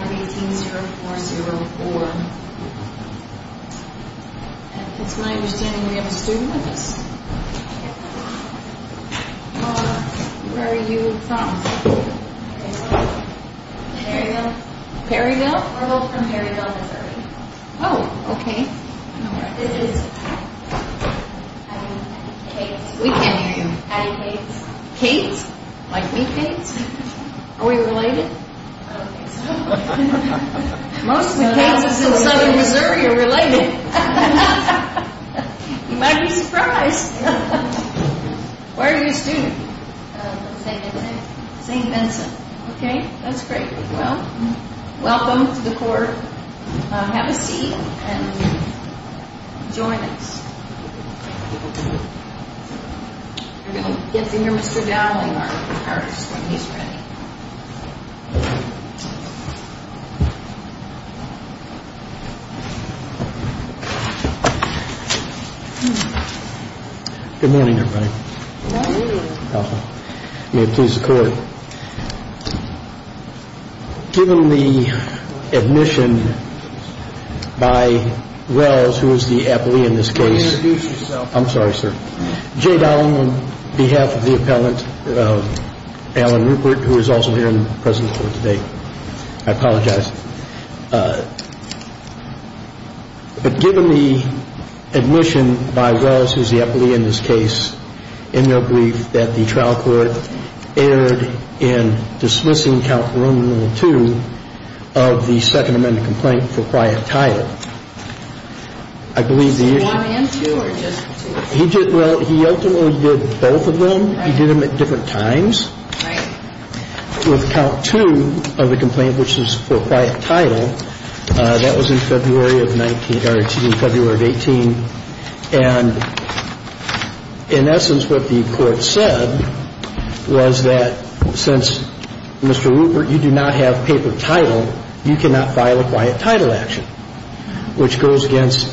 It's my understanding we have a student with us. Where are you from? Perryville. Perryville? We're both from Perryville, Missouri. Oh, okay. This is... I'm Kate. We can't hear you. I'm Kate. Kate? Like me, Kate? Are we related? I don't think so. Most of the cases in southern Missouri are related. You might be surprised. Where are you a student? St. Vincent. St. Vincent. Okay, that's great. Well, welcome to the court. Have a seat and join us. You're going to get to hear Mr. Dowling, our artist, when he's ready. Good morning, everybody. Good morning. May it please the court. Given the admission by Welz, who is the appellee in this case... Can you introduce yourself? I'm sorry, sir. Jay Dowling on behalf of the appellant, Alan Rupert, who is also here in the presence of the court today. I apologize. But given the admission by Welz, who is the appellee in this case, in their brief, that the trial court erred in dismissing count 1 and 2 of the Second Amendment complaint for quiet title, I believe the issue... Was it 1 and 2 or just 2? Well, he ultimately did both of them. He did them at different times. Right. With count 2 of the complaint, which is for quiet title, that was in February of 19 or February of 18. And in essence, what the court said was that since, Mr. Rupert, you do not have paper title, you cannot file a quiet title action, which goes against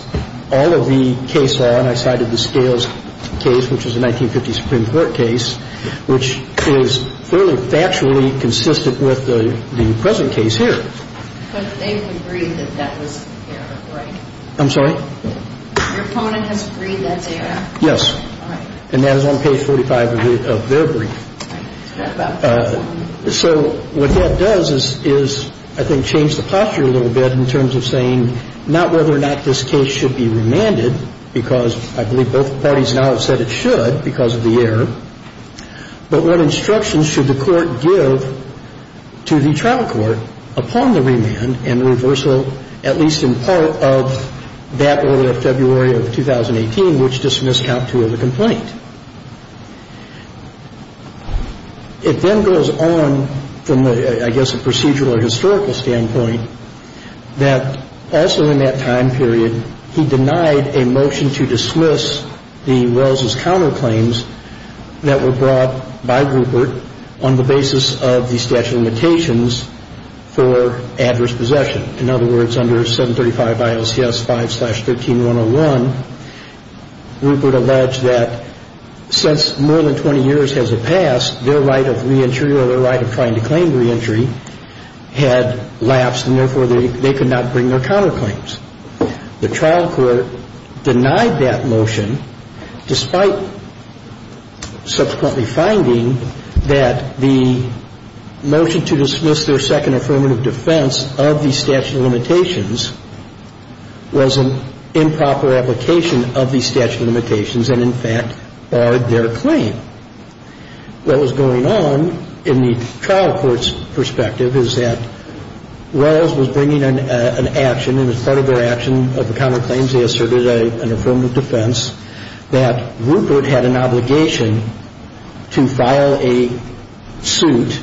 all of the case law. And I cited the Scales case, which is a 1950 Supreme Court case, which is fairly factually consistent with the present case here. But they agreed that that was error, right? I'm sorry? Your opponent has agreed that's error? Yes. All right. And that is on page 45 of their brief. So what that does is, I think, change the posture a little bit in terms of saying not whether or not this case should be remanded because I believe both parties now have said it should because of the error. But what instructions should the court give to the trial court upon the remand and reversal, at least in part, of that order of February of 2018, which dismissed count 2 of the complaint? It then goes on from, I guess, a procedural or historical standpoint that also in that time period, he denied a motion to dismiss the Wells's counterclaims that were brought by Rupert on the basis of the statute of limitations for adverse possession. In other words, under 735 ILCS 5-13101, Rupert alleged that since more than 20 years has passed, their right of reentry or their right of trying to claim reentry had lapsed and therefore they could not bring their counterclaims. The trial court denied that motion despite subsequently finding that the motion to dismiss their second affirmative defense of the statute of limitations was an improper application of the statute of limitations and, in fact, barred their claim. What was going on in the trial court's perspective is that Wells was bringing an action and as part of their action of the counterclaims, they asserted an affirmative defense that Rupert had an obligation to file a suit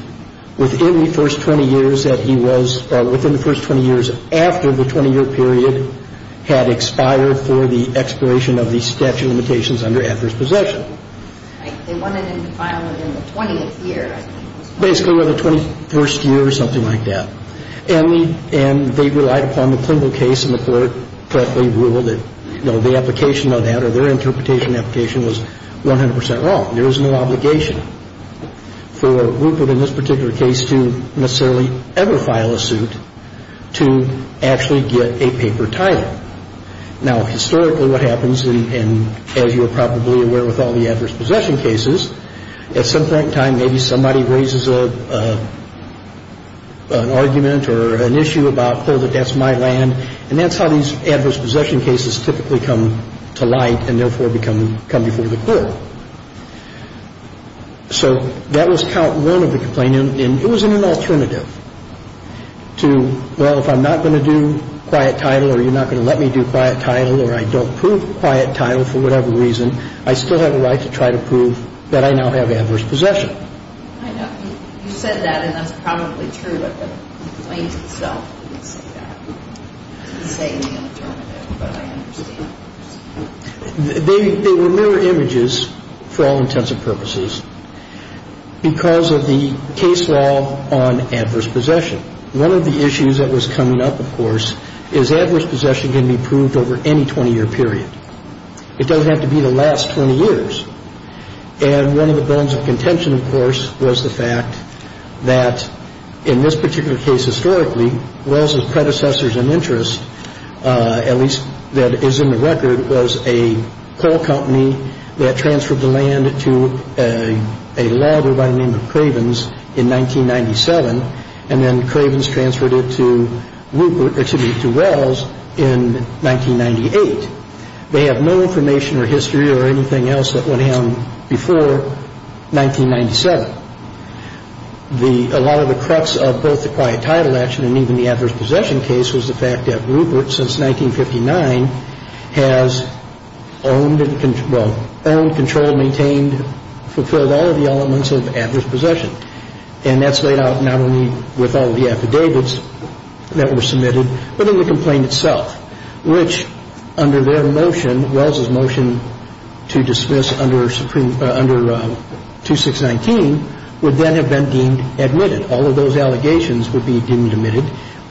within the first 20 years that he was, within the first 20 years after the 20-year period had expired for the expiration of the statute of limitations under adverse possession. They wanted him to file it in the 20th year. And they were not going to file a suit in the 21st year. Basically, within the 21st year or something like that. And they relied upon the clinical case and the court correctly ruled that, you know, the application of that or their interpretation of the application was 100 percent wrong. And so, you know, the trial court was not going to file a suit. And the court said, well, there is no obligation for Rupert in this particular case to necessarily ever file a suit to actually get a paper title. Now, historically what happens, and as you are probably aware with all the adverse possession cases, at some point in time maybe somebody raises an argument or an issue about, hold it, that's my land, and that's how these adverse possession cases typically come to light and therefore come before the court. So that was count one of the complaints, and it was an alternative to, well, if I'm not going to do quiet title or you're not going to let me do quiet title or I don't prove quiet title for whatever reason, I still have a right to try to prove that I now have adverse possession. I know. You said that, and that's probably true, but the complaint itself didn't say that. It didn't say in the alternative, but I understand. They were mirror images for all intents and purposes because of the case law on adverse possession. One of the issues that was coming up, of course, is adverse possession can be proved over any 20-year period. It doesn't have to be the last 20 years. And one of the bones of contention, of course, was the fact that in this particular case historically, Wells' predecessors in interest, at least that is in the record, was a coal company that transferred the land to a logger by the name of Cravens in 1997, and then Cravens transferred it to Rupert, excuse me, to Wells in 1998. They have no information or history or anything else that went down before 1997. A lot of the crux of both the quiet title action and even the adverse possession case was the fact that Rupert, since 1959, has owned and, well, owned, controlled, maintained, fulfilled all of the elements of adverse possession. And that's laid out not only with all of the affidavits that were submitted, but in the complaint itself, which under their motion, Wells' motion to dismiss under 2619, would then have been deemed admitted. All of those allegations would be deemed admitted.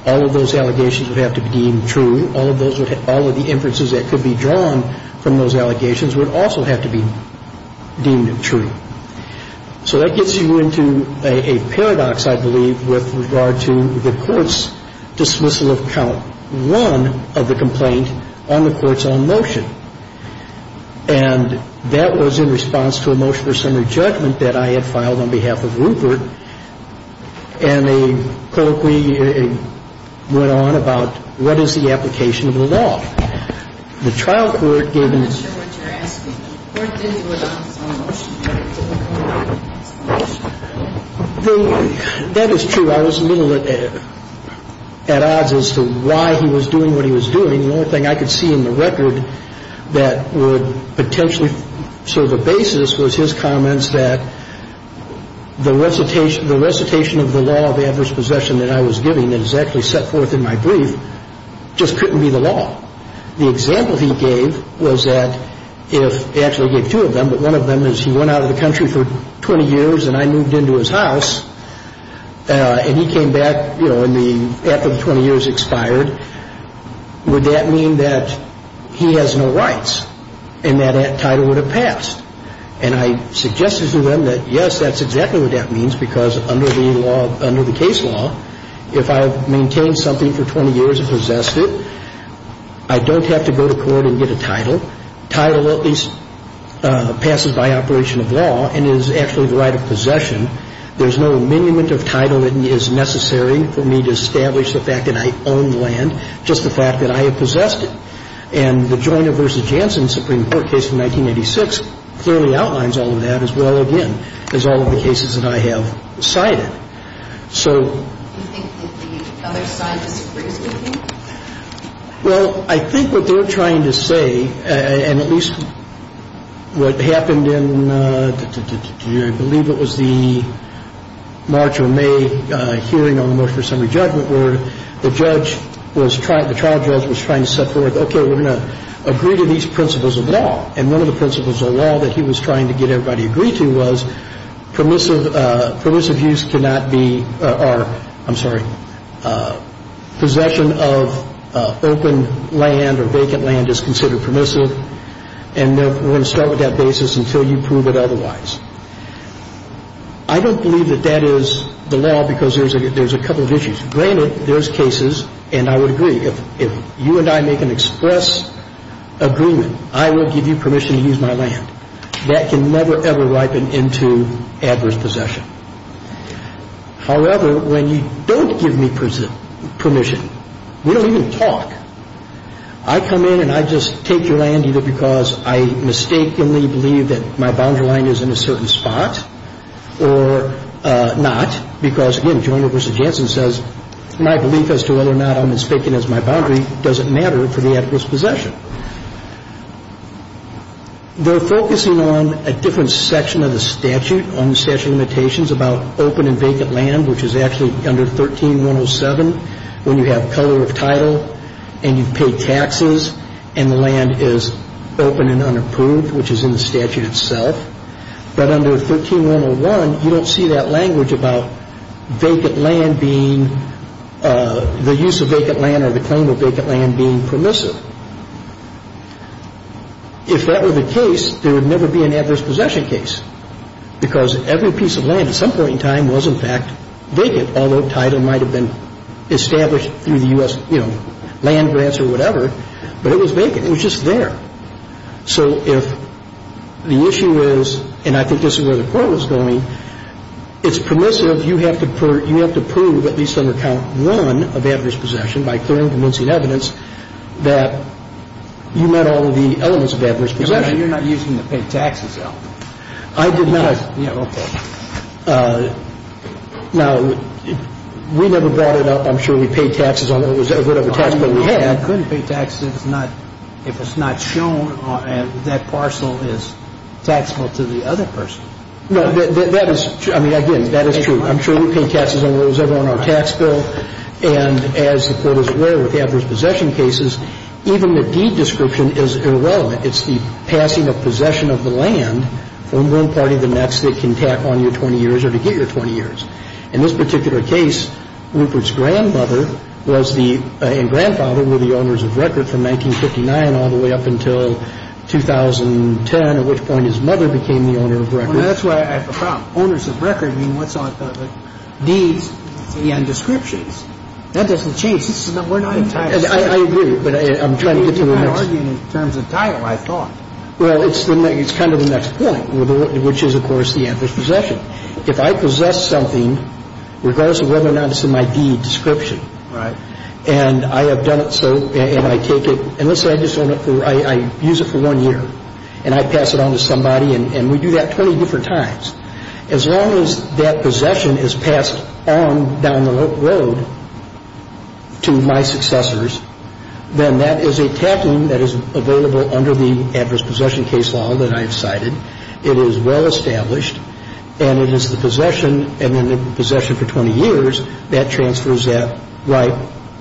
All of those allegations would have to be deemed true. All of the inferences that could be drawn from those allegations would also have to be deemed true. So that gets you into a paradox, I believe, with regard to the Court's dismissal of count one of the complaint on the Court's own motion. And that was in response to a motion for summary judgment that I had filed on behalf of Rupert, and a colloquy went on about what is the application of the law. The trial court gave me. I'm not sure what you're asking. The court did vote on its own motion. That is true. I was a little at odds as to why he was doing what he was doing. The only thing I could see in the record that would potentially serve a basis was his comments that the recitation of the law of adverse possession that I was giving that is actually set forth in my brief just couldn't be the law. The example he gave was that if he actually gave two of them, but one of them is he went out of the country for 20 years and I moved into his house, and he came back, you know, after the 20 years expired, would that mean that he has no rights and that title would have passed? And I suggested to them that, yes, that's exactly what that means because under the case law, if I have maintained something for 20 years and possessed it, I don't have to go to court and get a title. Title at least passes by operation of law and is actually the right of possession. There's no amendment of title that is necessary for me to establish the fact that I own the land, just the fact that I have possessed it. And the Joyner v. Jansen Supreme Court case from 1986 clearly outlines all of that as well, again, as all of the cases that I have cited. So... Do you think that the other side disagrees with you? Well, I think what they're trying to say, and at least what happened in, I believe it was the March or May hearing on the motion for summary judgment where the judge was trying, the trial judge was trying to set forth, okay, we're going to agree to these principles of law. And one of the principles of law that he was trying to get everybody to agree to was permissive use cannot be, or I'm sorry, possession of open land or vacant land is considered permissive, and we're going to start with that basis until you prove it otherwise. I don't believe that that is the law because there's a couple of issues. Granted, there's cases, and I would agree, if you and I make an express agreement, I will give you permission to use my land. That can never, ever ripen into adverse possession. However, when you don't give me permission, we don't even talk. I come in and I just take your land either because I mistakenly believe that my boundary line is in a certain spot or not because, again, Joyner v. Jansen says my belief as to whether or not I'm as vacant as my boundary doesn't matter for the adverse possession. They're focusing on a different section of the statute on the statute of limitations about open and vacant land, which is actually under 13-107 when you have color of title and you pay taxes and the land is open and unapproved, which is in the statute itself. But under 13-101, you don't see that language about vacant land being, the use of vacant land or the claim of vacant land being permissive. If that were the case, there would never be an adverse possession case because every piece of land in the statute is open and unapproved. And if it's permissive, you have to prove at least under count one of adverse possession by clearing and convincing evidence that you met all of the elements of adverse possession. You're not using the pay taxes, though. I did not. I did not. Okay. Now, we never brought it up. I'm sure we paid taxes on whatever tax bill we had. We couldn't pay taxes if it's not shown that parcel is taxable to the other person. No, that is true. I mean, again, that is true. I'm sure we paid taxes on whatever was on our tax bill. And as the Court is aware, with adverse possession cases, even the deed description is irrelevant. It's the passing of possession of the land from one party to the next that can tack on your 20 years or to get your 20 years. In this particular case, Rupert's grandmother was the – and grandfather were the owners of record from 1959 all the way up until 2010, at which point his mother became the owner of record. Well, that's where I have a problem. Owners of record mean what's on the deeds and descriptions. That doesn't change. We're not entirely – I agree, but I'm trying to get to the next – You're arguing in terms of title, I thought. Well, it's kind of the next point, which is, of course, the adverse possession. If I possess something, regardless of whether or not it's in my deed description – Right. And I have done it so, and I take it – and let's say I just own it for – I use it for one year, and I pass it on to somebody, and we do that 20 different times. As long as that possession is passed on down the road to my successors, then that is a tacking that is available under the adverse possession case law that I have cited. It is well established, and it is the possession – and then the possession for 20 years, that transfers that right,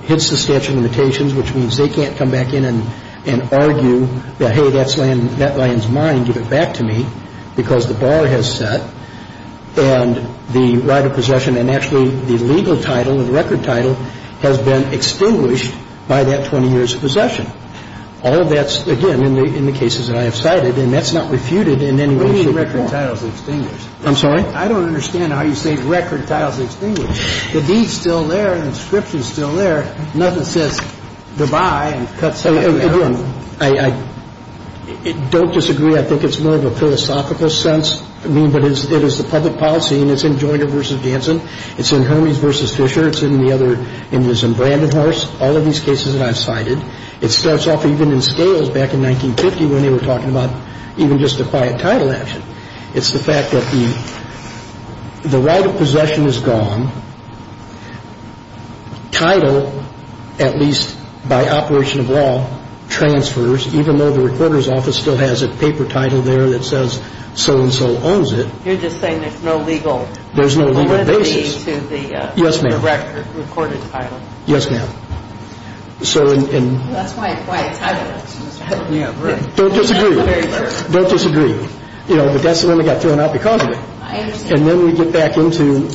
hits the statute of limitations, which means they can't come back in and argue that, hey, that lands mine, give it back to me, because the bar has set. And the right of possession, and actually the legal title, the record title, has been extinguished by that 20 years of possession. All of that's, again, in the cases that I have cited. And that's not refuted in any way, shape, or form. What do you mean record title is extinguished? I'm sorry? I don't understand how you say record title is extinguished. The deed is still there, and the description is still there. Nothing says goodbye and cut something out. Again, I don't disagree. I think it's more of a philosophical sense. I mean, but it is the public policy, and it's in Joyner v. Hansen. It's in Hermes v. Fisher. It's in the other – and there's in Brandenhorst. All of these cases that I've cited, it starts off even in scales back in 1950 when they were talking about even just a quiet title action. It's the fact that the right of possession is gone. Title, at least by operation of law, transfers, even though the recorder's office still has a paper title there that says so-and-so owns it. You're just saying there's no legal – There's no legal basis. Yes, ma'am. Recorded title. Yes, ma'am. Don't disagree. Don't disagree. You know, but that's the one that got thrown out because of it. I understand. And then we get back into,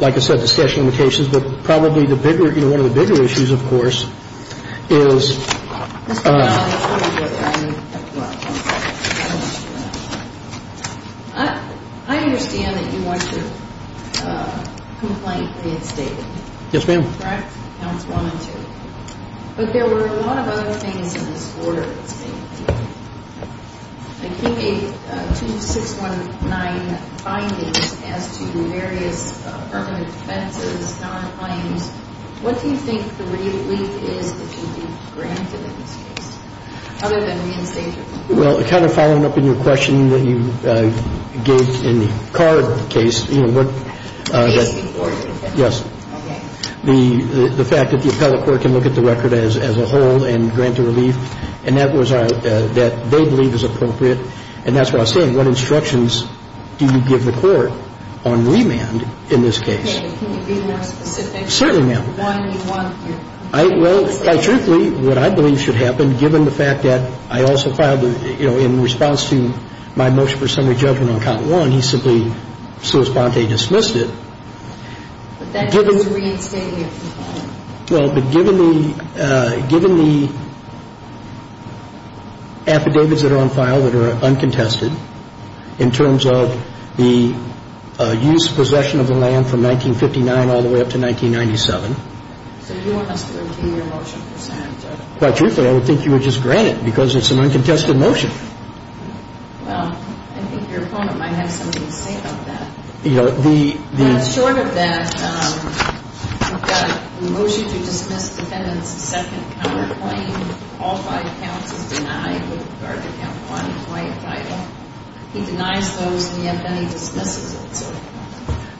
like I said, discussion of the cases, but probably the bigger – you know, one of the bigger issues, of course, is – Mr. Powell, before we go there, I have a question. I understand that you want to complain against David. Yes, ma'am. Correct? Counts one and two. But there were a lot of other things in this order against David. Like he gave two 619 findings as to various permanent offenses, non-claims. What do you think the relief is that you've granted in this case, other than reinstatement? Well, kind of following up on your question that you gave in the Carr case, you know, what – The case before you. Yes. Okay. The fact that the appellate court can look at the record as a whole and grant a relief, and that was – that they believe is appropriate. And that's why I was saying, what instructions do you give the court on remand in this case? Can you be more specific? Certainly, ma'am. Why do you want your – Well, quite truthfully, what I believe should happen, given the fact that I also filed the – you know, in response to my motion for summary judgment on count one, he simply sua sponte dismissed it. But that was a reinstatement. Well, but given the – given the affidavits that are on file that are uncontested, in terms of the use, possession of the land from 1959 all the way up to 1997. So you want us to review your motion for summary judgment? Quite truthfully, I would think you would just grant it because it's an uncontested motion. Well, I think your opponent might have something to say about that. You know, the – Well, short of that, we've got a motion to dismiss defendant's second counterclaim, all five counts as denied with regard to count one, white title. He denies those, and yet then he dismisses it.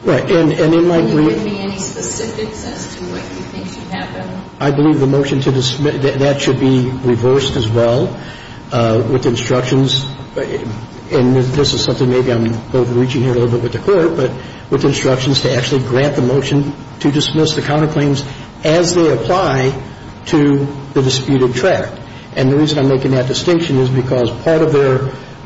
Right. And it might be – Can you give me any specifics as to what you think should happen? I believe the motion to dismiss – that should be reversed as well with instructions. And this is something maybe I'm overreaching here a little bit with the court, but with instructions to actually grant the motion to dismiss the counterclaims as they apply to the disputed tract. And the reason I'm making that distinction is because part of their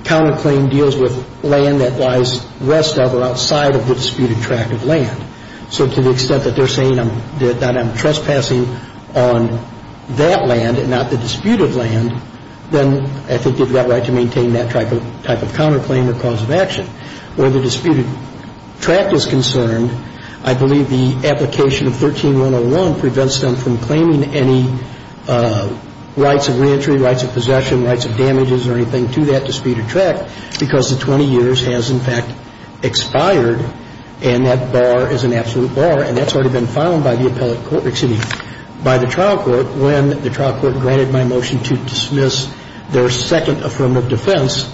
counterclaim deals with land that lies west of or outside of the disputed tract of land. So to the extent that they're saying that I'm trespassing on that land and not the disputed land, then I think you've got right to maintain that type of counterclaim or cause of action. Where the disputed tract is concerned, I believe the application of 13-101 prevents them from claiming any rights of reentry, rights of possession, rights of damages or anything to that disputed tract because the 20 years has, in fact, expired, and that bar is an absolute bar. And that's already been found by the appellate court – excuse me, by the trial court when the trial court granted my motion to dismiss their second affirmative defense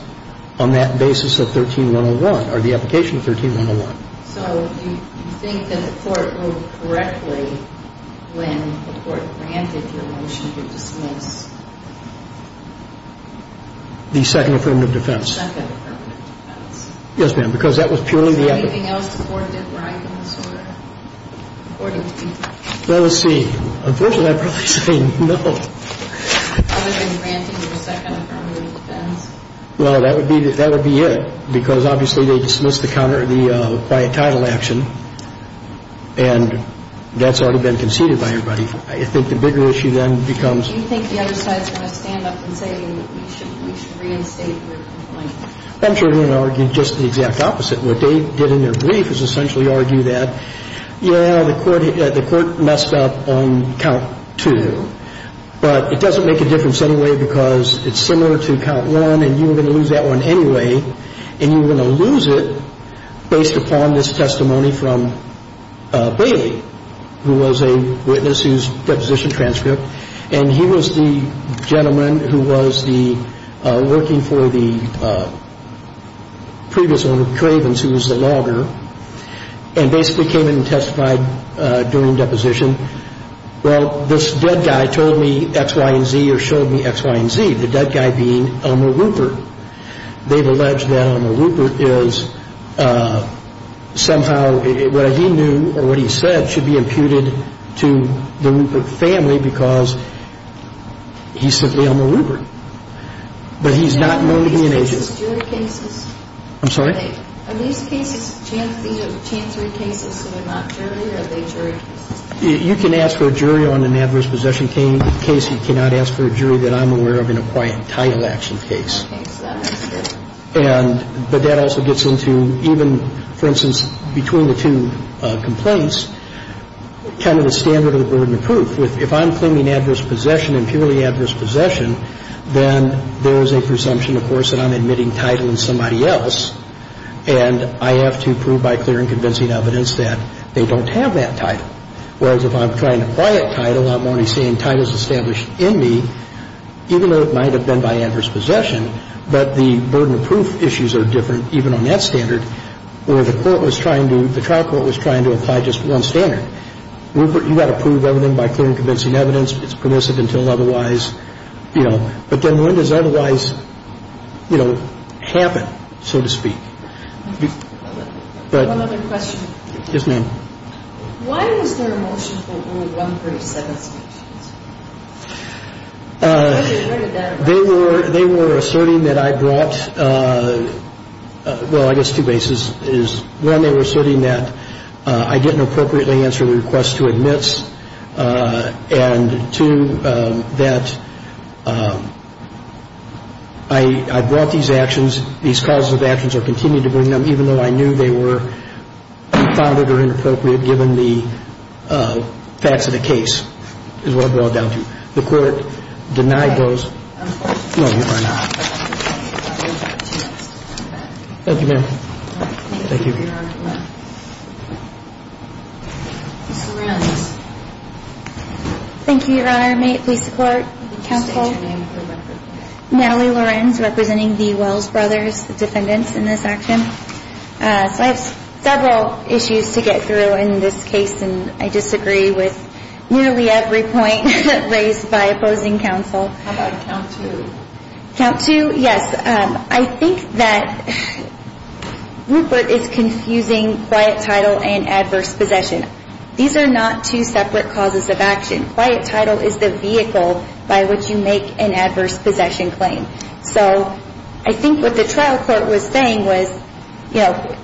on that basis of 13-101 or the application of 13-101. So do you think that the court wrote correctly when the court granted your motion to dismiss? The second affirmative defense. The second affirmative defense. Yes, ma'am, because that was purely the – Is there anything else the Court did right in this order according to the – Well, let's see. Unfortunately, I'd probably say no. Other than granting your second affirmative defense? Well, that would be it because obviously they dismissed the quiet title action and that's already been conceded by everybody. I think the bigger issue then becomes – Do you think the other side is going to stand up and say we should reinstate your complaint? I'm sure they're going to argue just the exact opposite. What they did in their brief is essentially argue that, yeah, the court messed up on count two, but it doesn't make a difference anyway because it's similar to count one and you were going to lose that one anyway, and you were going to lose it based upon this testimony from Bailey, who was a witness whose deposition transcript, and he was the gentleman who was working for the previous owner, Cravens, who was the logger, and basically came in and testified during deposition. Well, this dead guy told me X, Y, and Z or showed me X, Y, and Z, the dead guy being Elmer Rupert. They've alleged that Elmer Rupert is somehow – what he knew or what he said should be imputed to the Rupert family because he's simply Elmer Rupert, but he's not motivated. Are these cases jury cases? I'm sorry? You can ask for a jury on an adverse possession case. You cannot ask for a jury that I'm aware of in a quiet title action case. But that also gets into even, for instance, between the two complaints, kind of the standard of the burden of proof. If I'm claiming adverse possession and purely adverse possession, then there is a presumption, of course, that I'm admitting title in somebody else, and I have to prove by clear and convincing evidence that they don't have that title. Whereas if I'm trying to quiet title, I'm only saying title is established in me, even though it might have been by adverse possession, but the burden of proof issues are different even on that standard, where the court was trying to – the trial court was trying to apply just one standard. Rupert, you've got to prove everything by clear and convincing evidence. It's permissive until otherwise, you know. But then when does otherwise, you know, happen, so to speak? One other question. Yes, ma'am. Why was there a motion for only one brief set of statements? They were asserting that I brought – well, I guess two bases. One, they were asserting that I didn't appropriately answer the request to admit, and two, that I brought these actions, these calls of actions or continued to bring them, even though I knew they were unfounded or inappropriate given the facts of the case, is what I brought it down to. The court denied those. No, you are not. Thank you, ma'am. Thank you. Ms. Lorenz. Thank you, Your Honor. Ma'am, may I please support counsel? Natalie Lorenz, representing the Wells brothers, the defendants in this action. So I have several issues to get through in this case, and I disagree with nearly every point raised by opposing counsel. How about count two? Count two, yes. I think that Rupert is confusing quiet title and adverse possession. These are not two separate causes of action. Quiet title is the vehicle by which you make an adverse possession claim. So I think what the trial court was saying was, you know,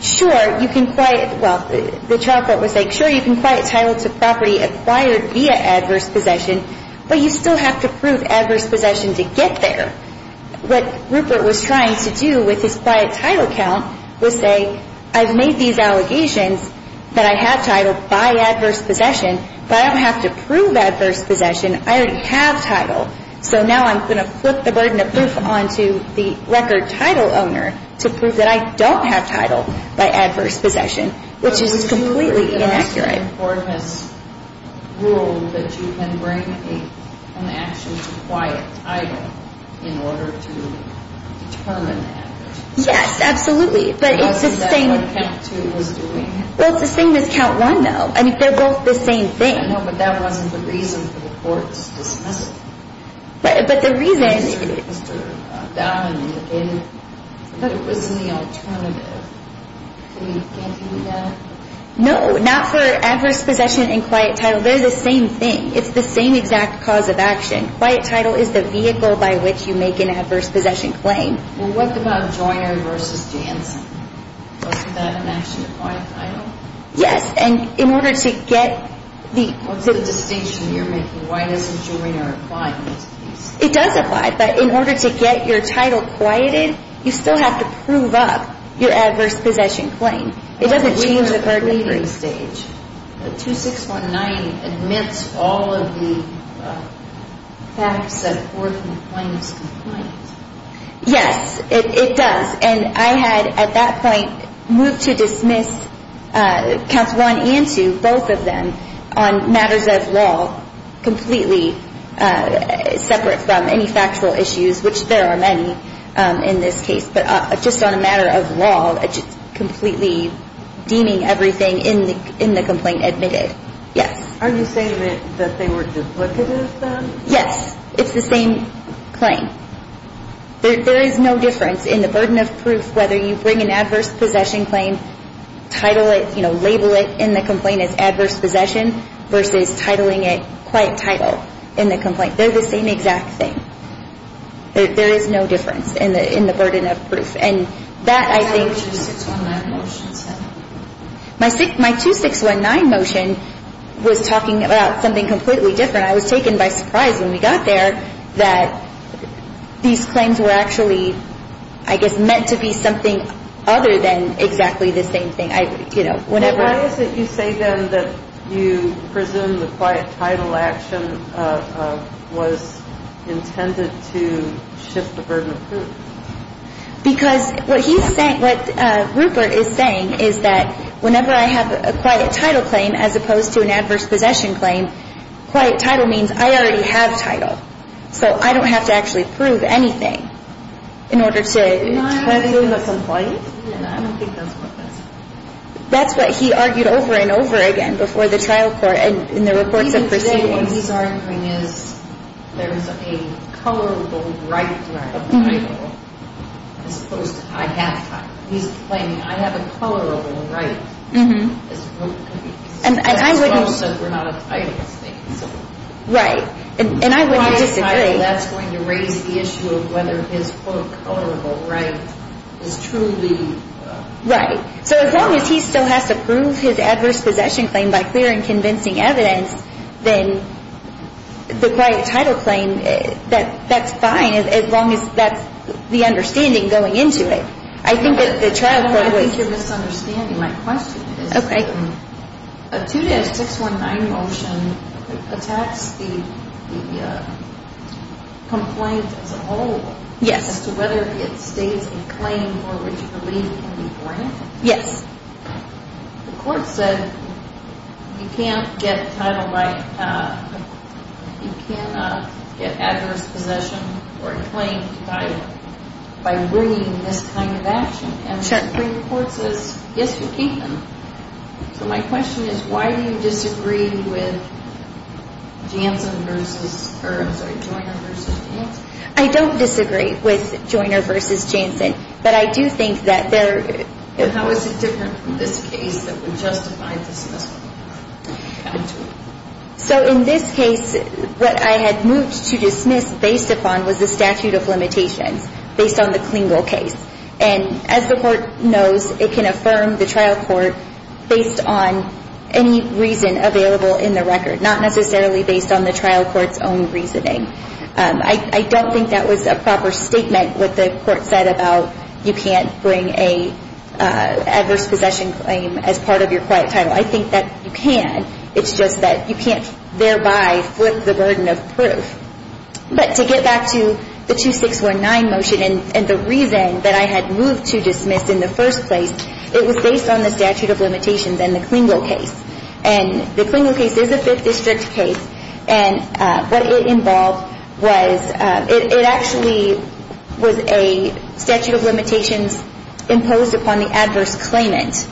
sure, you can quiet – well, the trial court was saying, sure, you can quiet title to property acquired via adverse possession, but you still have to prove adverse possession to get there. What Rupert was trying to do with his quiet title count was say, I've made these allegations that I have title by adverse possession, but I don't have to prove adverse possession. I already have title. So now I'm going to put the burden of proof onto the record title owner to prove that I don't have title by adverse possession, which is completely inaccurate. The trial court has ruled that you can bring an action to quiet title in order to determine that. Yes, absolutely. How is that what count two was doing? Well, it's the same as count one, though. I mean, they're both the same thing. I know, but that wasn't the reason for the court's dismissal. But the reason – Mr. Downing, but it was in the alternative. Can you – can't you do that? No, not for adverse possession and quiet title. They're the same thing. It's the same exact cause of action. Quiet title is the vehicle by which you make an adverse possession claim. Well, what about Joyner v. Jansen? Was that an action to quiet title? Yes. And in order to get the – What's the distinction you're making? Why doesn't Joyner apply to this case? It does apply. But in order to get your title quieted, you still have to prove up your adverse possession claim. It doesn't change the burden of proof. But we are at the grieving stage. But 2619 admits all of the facts that a court can claim as complaint. Yes, it does. And I had, at that point, moved to dismiss Counts 1 and 2, both of them, on matters of law, completely separate from any factual issues, which there are many in this case, but just on a matter of law, completely deeming everything in the complaint admitted. Yes. Are you saying that they were duplicative then? Yes. It's the same claim. There is no difference in the burden of proof, whether you bring an adverse possession claim, title it, label it in the complaint as adverse possession, versus titling it quiet title in the complaint. They're the same exact thing. There is no difference in the burden of proof. And that, I think – What did your 2619 motion say? My 2619 motion was talking about something completely different. And I was taken by surprise when we got there that these claims were actually, I guess, meant to be something other than exactly the same thing. You know, whenever – Why is it you say then that you presume the quiet title action was intended to shift the burden of proof? Because what he's saying – what Rupert is saying is that whenever I have a quiet title claim, as opposed to an adverse possession claim, quiet title means I already have title. So I don't have to actually prove anything in order to – Am I arguing the complaint? I don't think that's what that's – That's what he argued over and over again before the trial court and in the reports of proceedings. What he's arguing is there is a colorable right of title as opposed to I have title. He's claiming I have a colorable right as opposed to if we're not a title state. Right. And I wouldn't disagree. A quiet title, that's going to raise the issue of whether his colorable right is truly – Right. So as long as he still has to prove his adverse possession claim by clear and convincing evidence, then the quiet title claim, that's fine as long as that's the understanding going into it. I think the trial court was – I think you're misunderstanding. My question is – Okay. A 2-619 motion attacks the complaint as a whole. Yes. As to whether it states a claim for which relief can be granted. Yes. The court said you can't get title by – you cannot get adverse possession or a claim by bringing this kind of action. And the Supreme Court says, yes, you can. So my question is why do you disagree with Janssen versus – or I'm sorry, Joyner versus Janssen? I don't disagree with Joyner versus Janssen, but I do think that there – How is it different from this case that would justify dismissal? So in this case, what I had moved to dismiss based upon was the statute of limitations based on the Klingel case. And as the court knows, it can affirm the trial court based on any reason available in the record, not necessarily based on the trial court's own reasoning. I don't think that was a proper statement what the court said about you can't bring an adverse possession claim as part of your quiet title. I think that you can. It's just that you can't thereby flip the burden of proof. But to get back to the 2-619 motion and the reason that I had moved to dismiss in the first place, it was based on the statute of limitations and the Klingel case. And the Klingel case is a Fifth District case. And what it involved was – it actually was a statute of limitations imposed upon the adverse claimant.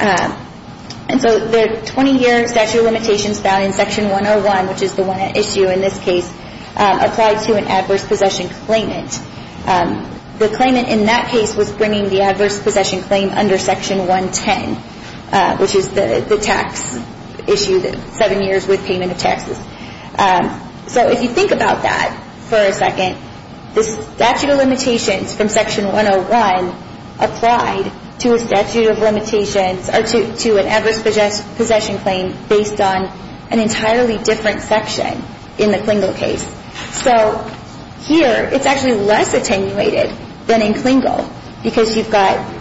And so the 20-year statute of limitations found in Section 101, which is the one at issue in this case, applied to an adverse possession claimant. The claimant in that case was bringing the adverse possession claim under Section 110, which is the tax issue, the seven years with payment of taxes. So if you think about that for a second, the statute of limitations from Section 101 applied to a statute of limitations or to an adverse possession claim based on an entirely different section in the Klingel case. So here, it's actually less attenuated than in Klingel because you've got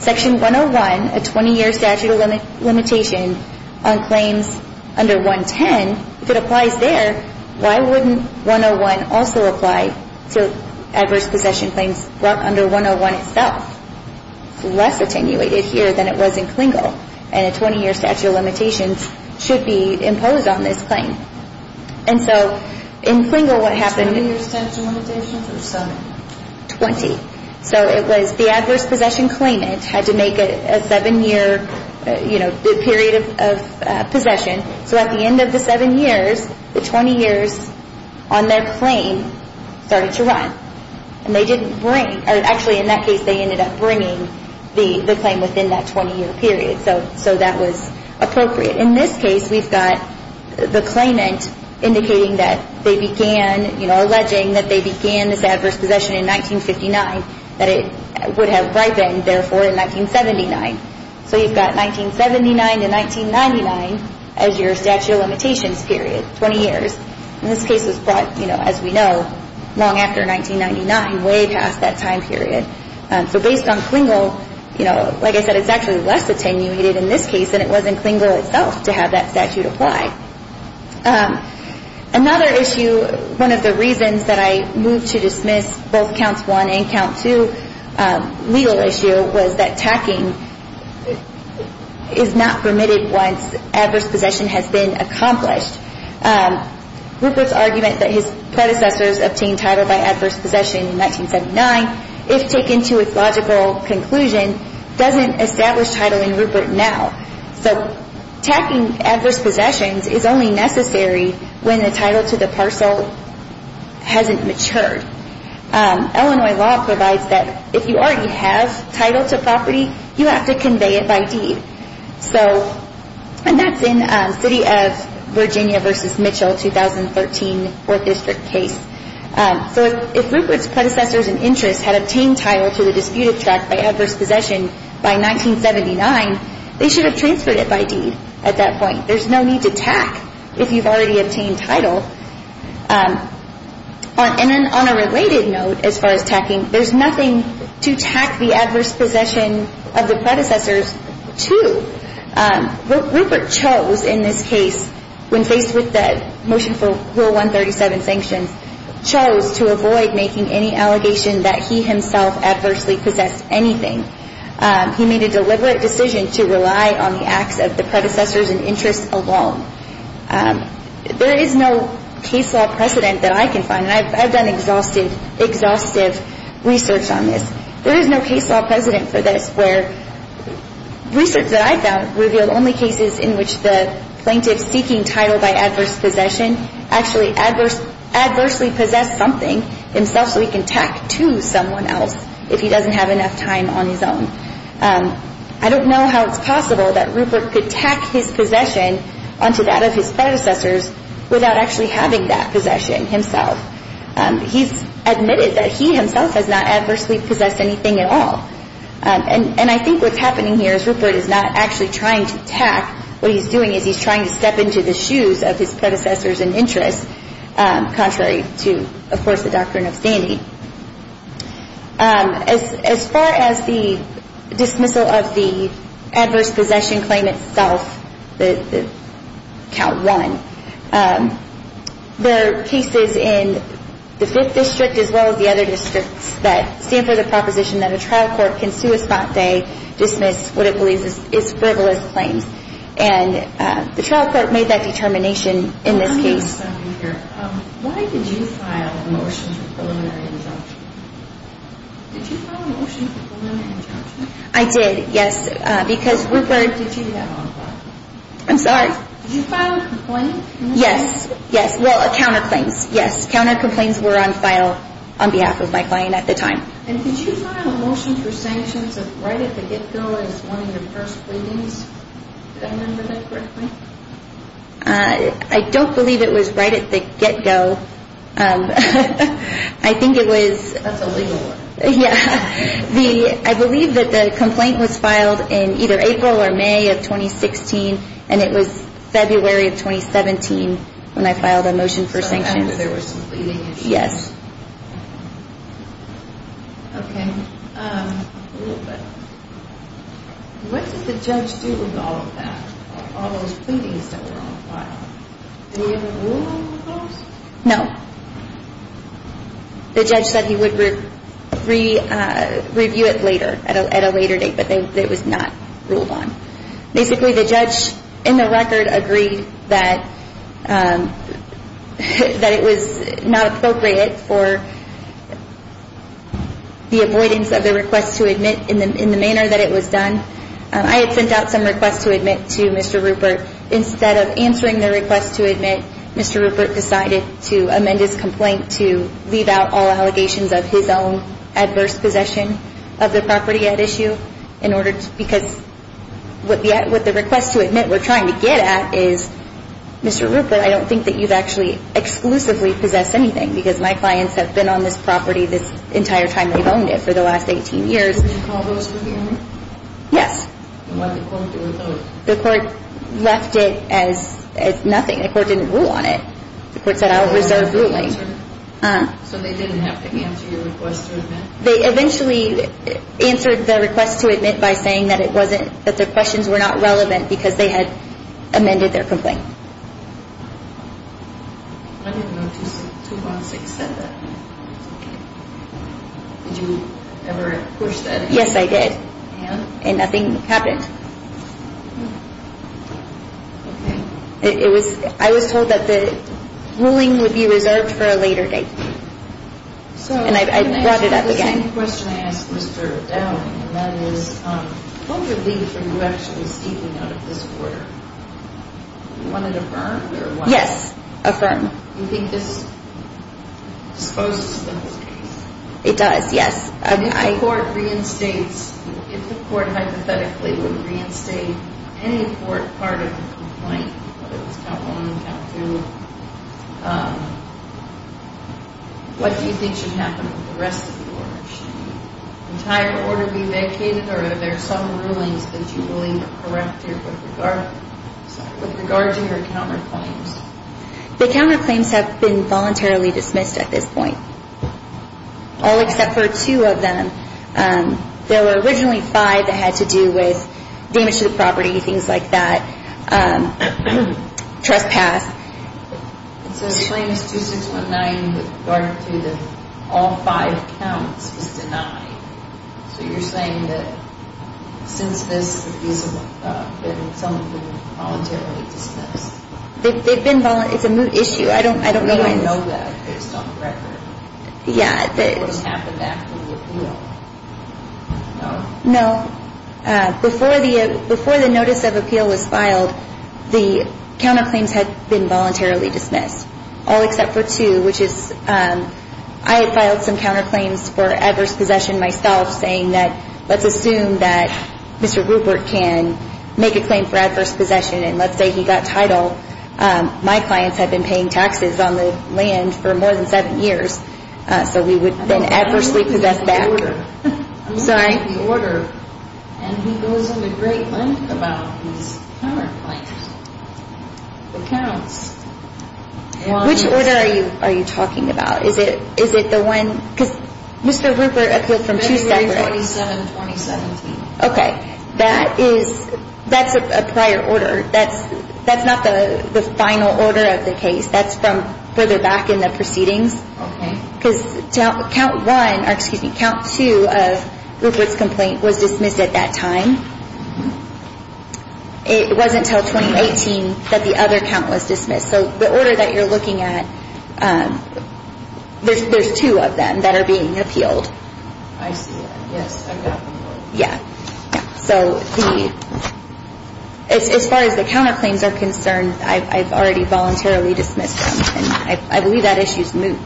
Section 101, a 20-year statute of limitation on claims under 110. If it applies there, why wouldn't 101 also apply to adverse possession claims under 101 itself? It's less attenuated here than it was in Klingel. And a 20-year statute of limitations should be imposed on this claim. And so in Klingel, what happened... 20-year statute of limitations or seven? Twenty. So it was the adverse possession claimant had to make a seven-year, you know, period of possession. So at the end of the seven years, the 20 years on their claim started to run. And they didn't bring, or actually in that case, they ended up bringing the claim within that 20-year period. So that was appropriate. In this case, we've got the claimant indicating that they began, you know, alleging that they began this adverse possession in 1959, that it would have ripened therefore in 1979. So you've got 1979 to 1999 as your statute of limitations period, 20 years. And this case was brought, you know, as we know, long after 1999, way past that time period. So based on Klingel, you know, like I said, it's actually less attenuated in this case than it was in Klingel itself to have that statute applied. Another issue, one of the reasons that I moved to dismiss both Counts 1 and Count 2 legal issue, was that tacking is not permitted once adverse possession has been accomplished. Rupert's argument that his predecessors obtained title by adverse possession in 1979, if taken to its logical conclusion, doesn't establish title in Rupert now. So tacking adverse possessions is only necessary when the title to the parcel hasn't matured. Illinois law provides that if you already have title to property, you have to convey it by deed. So, and that's in City of Virginia v. Mitchell 2013 4th District case. So if Rupert's predecessors and interests had obtained title to the disputed tract by adverse possession by 1979, they should have transferred it by deed at that point. There's no need to tack if you've already obtained title. And then on a related note, as far as tacking, there's nothing to tack the adverse possession of the predecessors to. Rupert chose in this case, when faced with the motion for Rule 137 sanctions, chose to avoid making any allegation that he himself adversely possessed anything. He made a deliberate decision to rely on the acts of the predecessors and interests alone. There is no case law precedent that I can find, and I've done exhaustive research on this. There is no case law precedent for this where research that I've found revealed only cases in which the plaintiff seeking title by adverse possession actually adversely possessed something himself so he can tack to someone else if he doesn't have enough time on his own. I don't know how it's possible that Rupert could tack his possession onto that of his predecessors without actually having that possession himself. He's admitted that he himself has not adversely possessed anything at all. And I think what's happening here is Rupert is not actually trying to tack. What he's doing is he's trying to step into the shoes of his predecessors and interests, contrary to, of course, the doctrine of standing. As far as the dismissal of the adverse possession claim itself, Count 1, there are cases in the 5th District as well as the other districts that stand for the proposition that a trial court can sue a spot day, dismiss what it believes is frivolous claims. And the trial court made that determination in this case. Why did you file a motion for preliminary injunction? Did you file a motion for preliminary injunction? I did, yes, because Rupert... Did you do that on the block? I'm sorry? Did you file a complaint? Yes, yes, well, counterclaims, yes. Counterclaims were on file on behalf of my client at the time. And did you file a motion for sanctions right at the get-go as one of your first pleadings? Did I remember that correctly? I don't believe it was right at the get-go. I think it was... That's a legal word. Yeah, I believe that the complaint was filed in either April or May of 2016, and it was February of 2017 when I filed a motion for sanctions. So I remember there was some pleading issues. Yes. Okay, a little bit. What did the judge do with all of that, all those pleadings that were on file? Did he ever rule on those? No. The judge said he would review it later, at a later date, but it was not ruled on. Basically, the judge, in the record, agreed that it was not appropriate for the avoidance of the request to admit in the manner that it was done. I had sent out some requests to admit to Mr. Rupert. Instead of answering the request to admit, Mr. Rupert decided to amend his complaint to leave out all allegations of his own adverse possession of the property at issue, because what the request to admit we're trying to get at is, Mr. Rupert, I don't think that you've actually exclusively possessed anything, because my clients have been on this property this entire time they've owned it, for the last 18 years. Did you call those for hearing? Yes. And what did the court do with those? The court left it as nothing. The court didn't rule on it. The court said, I'll reserve ruling. So they didn't have to answer your request to admit? They eventually answered the request to admit by saying that their questions were not relevant because they had amended their complaint. I didn't know 216 said that. Did you ever push that? Yes, I did. And? And nothing happened. Okay. I was told that the ruling would be reserved for a later date. And I brought it up again. The same question I asked Mr. Dowling, and that is, what would leave for you actually steeping out of this order? You want it affirmed or what? Yes, affirm. You think this disposes of the whole case? It does, yes. If the court hypothetically would reinstate any court part of the complaint, whether it was count one, count two, what do you think should happen with the rest of the order? Should the entire order be vacated or are there some rulings that you're willing to correct with regard to your counterclaims? The counterclaims have been voluntarily dismissed at this point, all except for two of them. There were originally five that had to do with damage to the property, things like that, trespass. So the claim is 2619 with regard to all five counts was denied. So you're saying that since this, these have been voluntarily dismissed. It's a moot issue. I don't know when. We don't know that based on the record. Yeah. What's happened after the appeal. No. No. Before the notice of appeal was filed, the counterclaims had been voluntarily dismissed, all except for two, which is I had filed some counterclaims for adverse possession myself, saying that let's assume that Mr. Rupert can make a claim for adverse possession and let's say he got title. My clients had been paying taxes on the land for more than seven years, so we would then adversely possess back. I'm sorry. The order, and he goes into great length about his counterclaims, the counts. Which order are you talking about? Is it the one, because Mr. Rupert appealed from two separate. February 27, 2017. Okay. That's a prior order. That's not the final order of the case. That's from further back in the proceedings. Okay. Because count one, or excuse me, count two of Rupert's complaint was dismissed at that time. It wasn't until 2018 that the other count was dismissed. So the order that you're looking at, there's two of them that are being appealed. I see that. Yes. Yeah. So as far as the counterclaims are concerned, I've already voluntarily dismissed them. I believe that issue is moot.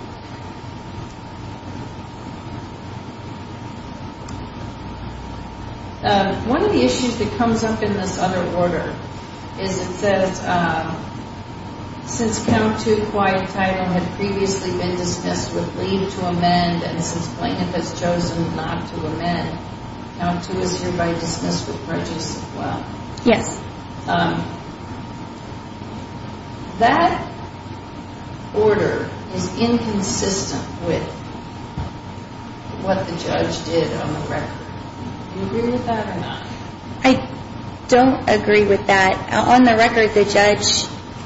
One of the issues that comes up in this other order is it says, since count two, quiet title, had previously been dismissed with leave to amend and since plaintiff has chosen not to amend, count two is hereby dismissed with righteous will. Yes. That order is inconsistent with what the judge did on the record. Do you agree with that or not? I don't agree with that. On the record, the judge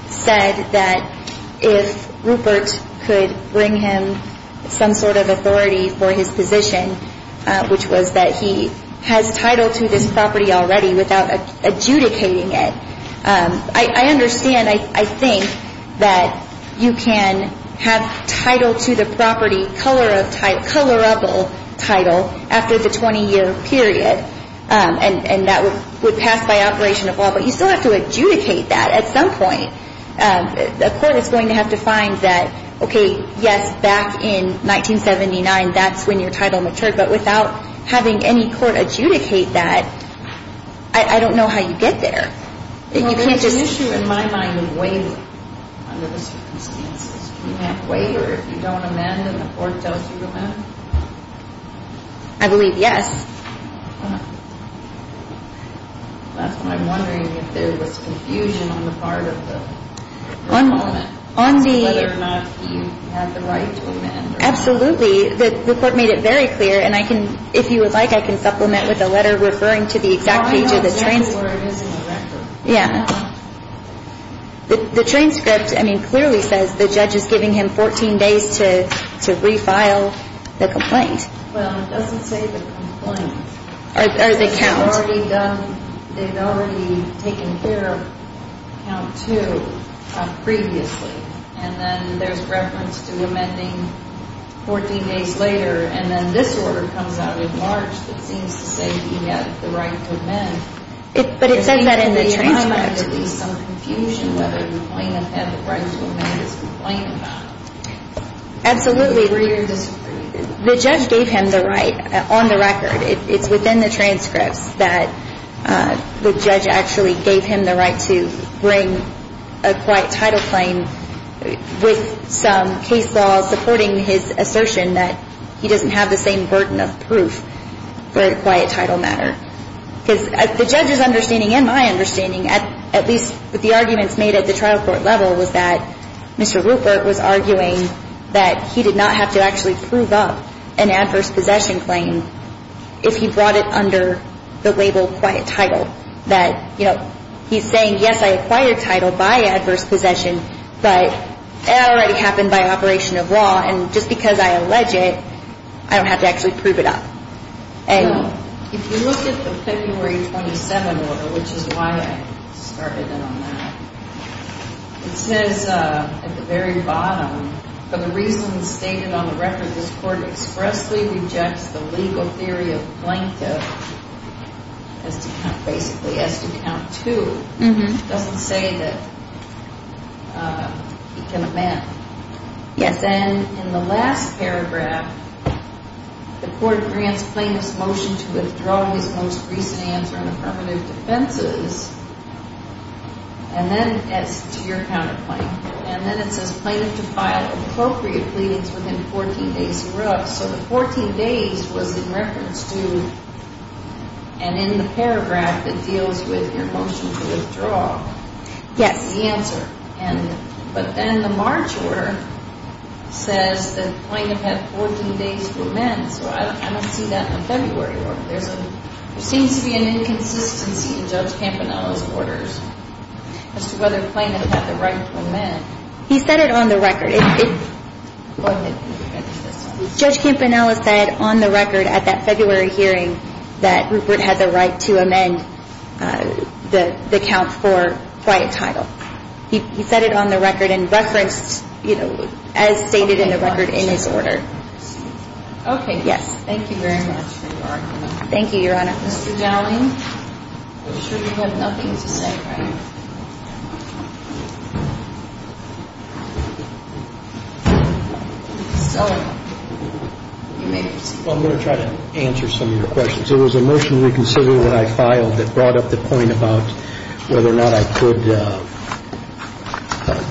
said that if Rupert could bring him some sort of authority for his position, which was that he has title to this property already without adjudicating it, I understand, I think, that you can have title to the property, colorable title, after the 20-year period, and that would pass by operation of law. But you still have to adjudicate that at some point. The court is going to have to find that, okay, yes, back in 1979, that's when your title matured, but without having any court adjudicate that, I don't know how you get there. Well, there's an issue in my mind of waiving under the circumstances. You can't waive or if you don't amend and the court tells you to amend? I believe yes. That's why I'm wondering if there was confusion on the part of the complaint, whether or not you had the right to amend. Absolutely. The court made it very clear, and I can, if you would like, I can supplement with a letter referring to the exact page of the transcript. I know exactly where it is in the record. Yeah. The transcript, I mean, clearly says the judge is giving him 14 days to refile the complaint. Well, it doesn't say the complaint. Or the count. They've already done, they've already taken care of count two previously, and then there's reference to amending 14 days later, and then this order comes out in March that seems to say you have the right to amend. But it says that in the transcript. There may be some confusion whether you might have had the right to amend this complaint or not. Absolutely. The judge gave him the right on the record. It's within the transcripts that the judge actually gave him the right to bring a quiet title claim with some case law supporting his assertion that he doesn't have the same burden of proof for a quiet title matter. Because the judge's understanding and my understanding, at least with the arguments made at the trial court level, was that Mr. Rupert was arguing that he did not have to actually prove up an adverse possession claim if he brought it under the label quiet title. That, you know, he's saying, yes, I acquired title by adverse possession, but it already happened by operation of law, and just because I allege it, I don't have to actually prove it up. If you look at the February 27 order, which is why I started in on that, it says at the very bottom, for the reasons stated on the record, this court expressly rejects the legal theory of plaintiff, basically has to count two. It doesn't say that he can amend. Then in the last paragraph, the court grants plaintiff's motion to withdraw his most recent answer in affirmative defenses, and then it's to your counterclaim, and then it says plaintiff to file appropriate pleadings within 14 days, so the 14 days was in reference to, and in the paragraph, it deals with your motion to withdraw the answer. But then the March order says that plaintiff had 14 days to amend, so I don't see that in the February order. There seems to be an inconsistency in Judge Campanella's orders as to whether plaintiff had the right to amend. He said it on the record. Go ahead. Judge Campanella said on the record at that February hearing that Rupert had the right to amend the count for quiet title. He said it on the record and referenced, you know, as stated in the record in his order. Okay. Yes. Thank you very much for your argument. Thank you, Your Honor. Mr. Dowling, I'm sure you have nothing to say, right? So you may proceed. Well, I'm going to try to answer some of your questions. It was a motion to reconsider what I filed that brought up the point about whether or not I could,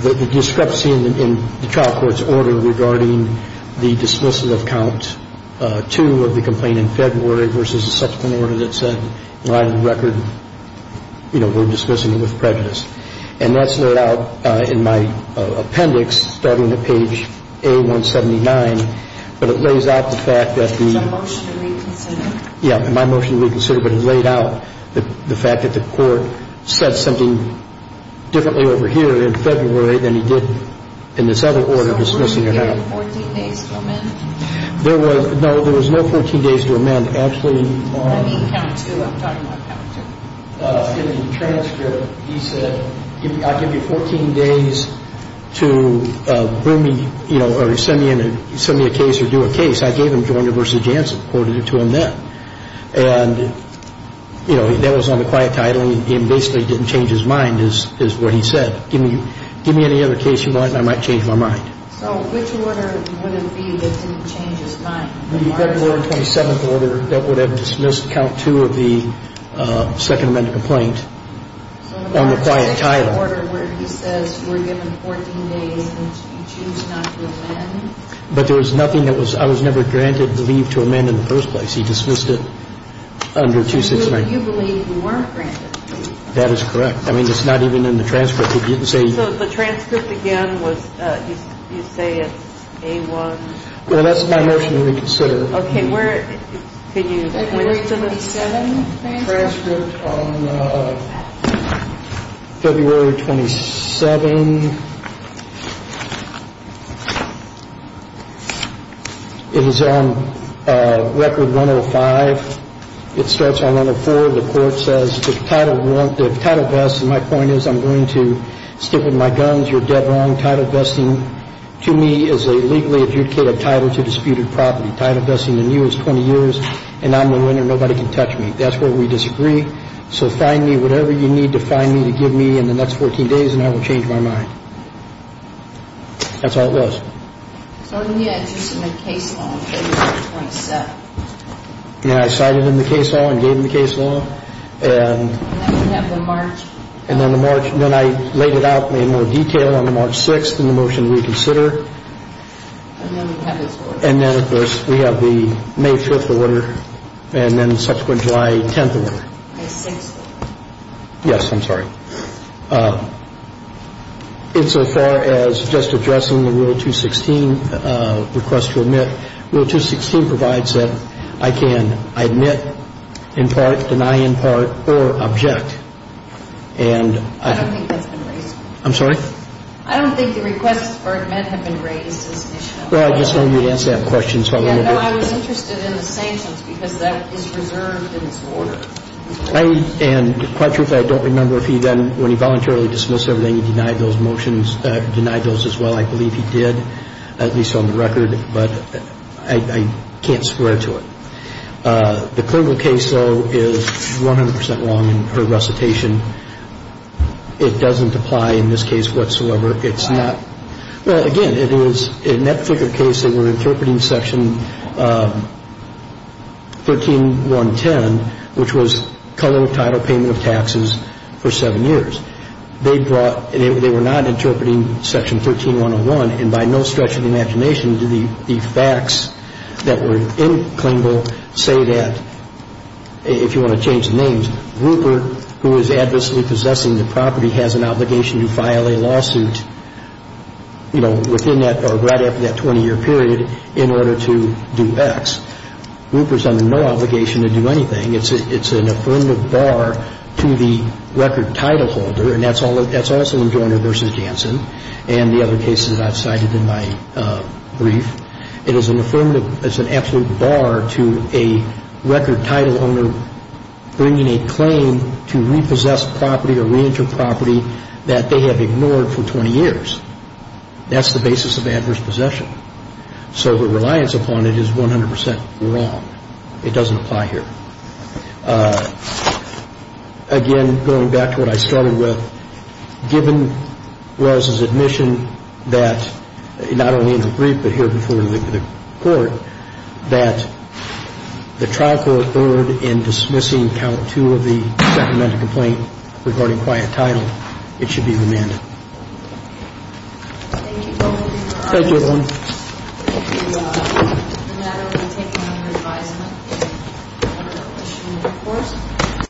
the discrepancy in the trial court's order regarding the dismissal of count 2 of the complaint in February versus a subsequent order that said on the record, you know, we're dismissing it with prejudice. And that's laid out in my appendix starting at page A179, but it lays out the fact that the ---- my motion to reconsider, but it laid out the fact that the court said something differently over here in February than he did in this other order dismissing it. So you gave him 14 days to amend? No, there was no 14 days to amend. I mean count 2. I'm talking about count 2. In the transcript, he said, I'll give you 14 days to bring me, you know, or send me a case or do a case. I gave him Joyner v. Jansen, quoted it to him then. And, you know, that was on the quiet title. He basically didn't change his mind is what he said. Give me any other case you want and I might change my mind. So which order would it be that didn't change his mind? The February 27th order that would have dismissed count 2 of the Second Amendment complaint on the quiet title. So the March 6th order where he says you were given 14 days and you choose not to amend? But there was nothing that was ñ I was never granted leave to amend in the first place. He dismissed it under 269. So you believe you weren't granted leave? That is correct. I mean it's not even in the transcript. So the transcript again was you say it's A-1. Well, that's my motion to reconsider. Okay. Where can you ñ February 27th. Transcript on February 27th. It is on record 105. It starts on 104. The court says the title vests, and my point is I'm going to stick with my guns. You're dead wrong. Title vesting to me is a legally adjudicated title to disputed property. Title vesting in you is 20 years, and I'm the winner. Nobody can touch me. That's where we disagree. So find me whatever you need to find me to give me in the next 14 days, and I will change my mind. That's all it was. So on the edge you submit a case law on February 27th. And I cited in the case law and gave in the case law. And then we have the March. And then the March. Then I laid it out in more detail on the March 6th in the motion to reconsider. And then we have his order. And then of course we have the May 5th order. And then the subsequent July 10th order. May 6th order. Yes, I'm sorry. Insofar as just addressing the Rule 216 request to admit, Rule 216 provides that I can admit in part, deny in part, or object. And I don't think that's been raised. I'm sorry? I don't think the request for admit has been raised as an issue. Well, I just wanted you to answer that question. No, I was interested in the sanctions because that is reserved in its order. And quite truthfully, I don't remember if he then, when he voluntarily dismissed everything, he denied those motions, denied those as well. I believe he did, at least on the record. But I can't swear to it. The Klingel case, though, is 100% wrong in her recitation. It doesn't apply in this case whatsoever. Why? Well, again, it is, in that Flickr case, they were interpreting Section 13110, which was color, title, payment of taxes for seven years. They brought, they were not interpreting Section 13101. And by no stretch of the imagination do the facts that were in Klingel say that, if you want to change the names, you have to have a title holder. And that's also in Joyner v. Danson. And that's also in Joyner v. Danson. And the other cases I've cited in my brief, it is an affirmative, it's an absolute bar to a record title owner bringing a title holder to a record title holder to repossess property or reenter property that they have ignored for 20 years. That's the basis of adverse possession. So her reliance upon it is 100% wrong. It doesn't apply here. Again, going back to what I started with, given Wells' admission that, not only in her brief but here before the court, that the trial court erred in dismissing count two of the supplemented complaint regarding quiet title, it should be remanded. Thank you both. Thank you, everyone. Thank you. No matter what you take from your advisement. Any other questions, of course?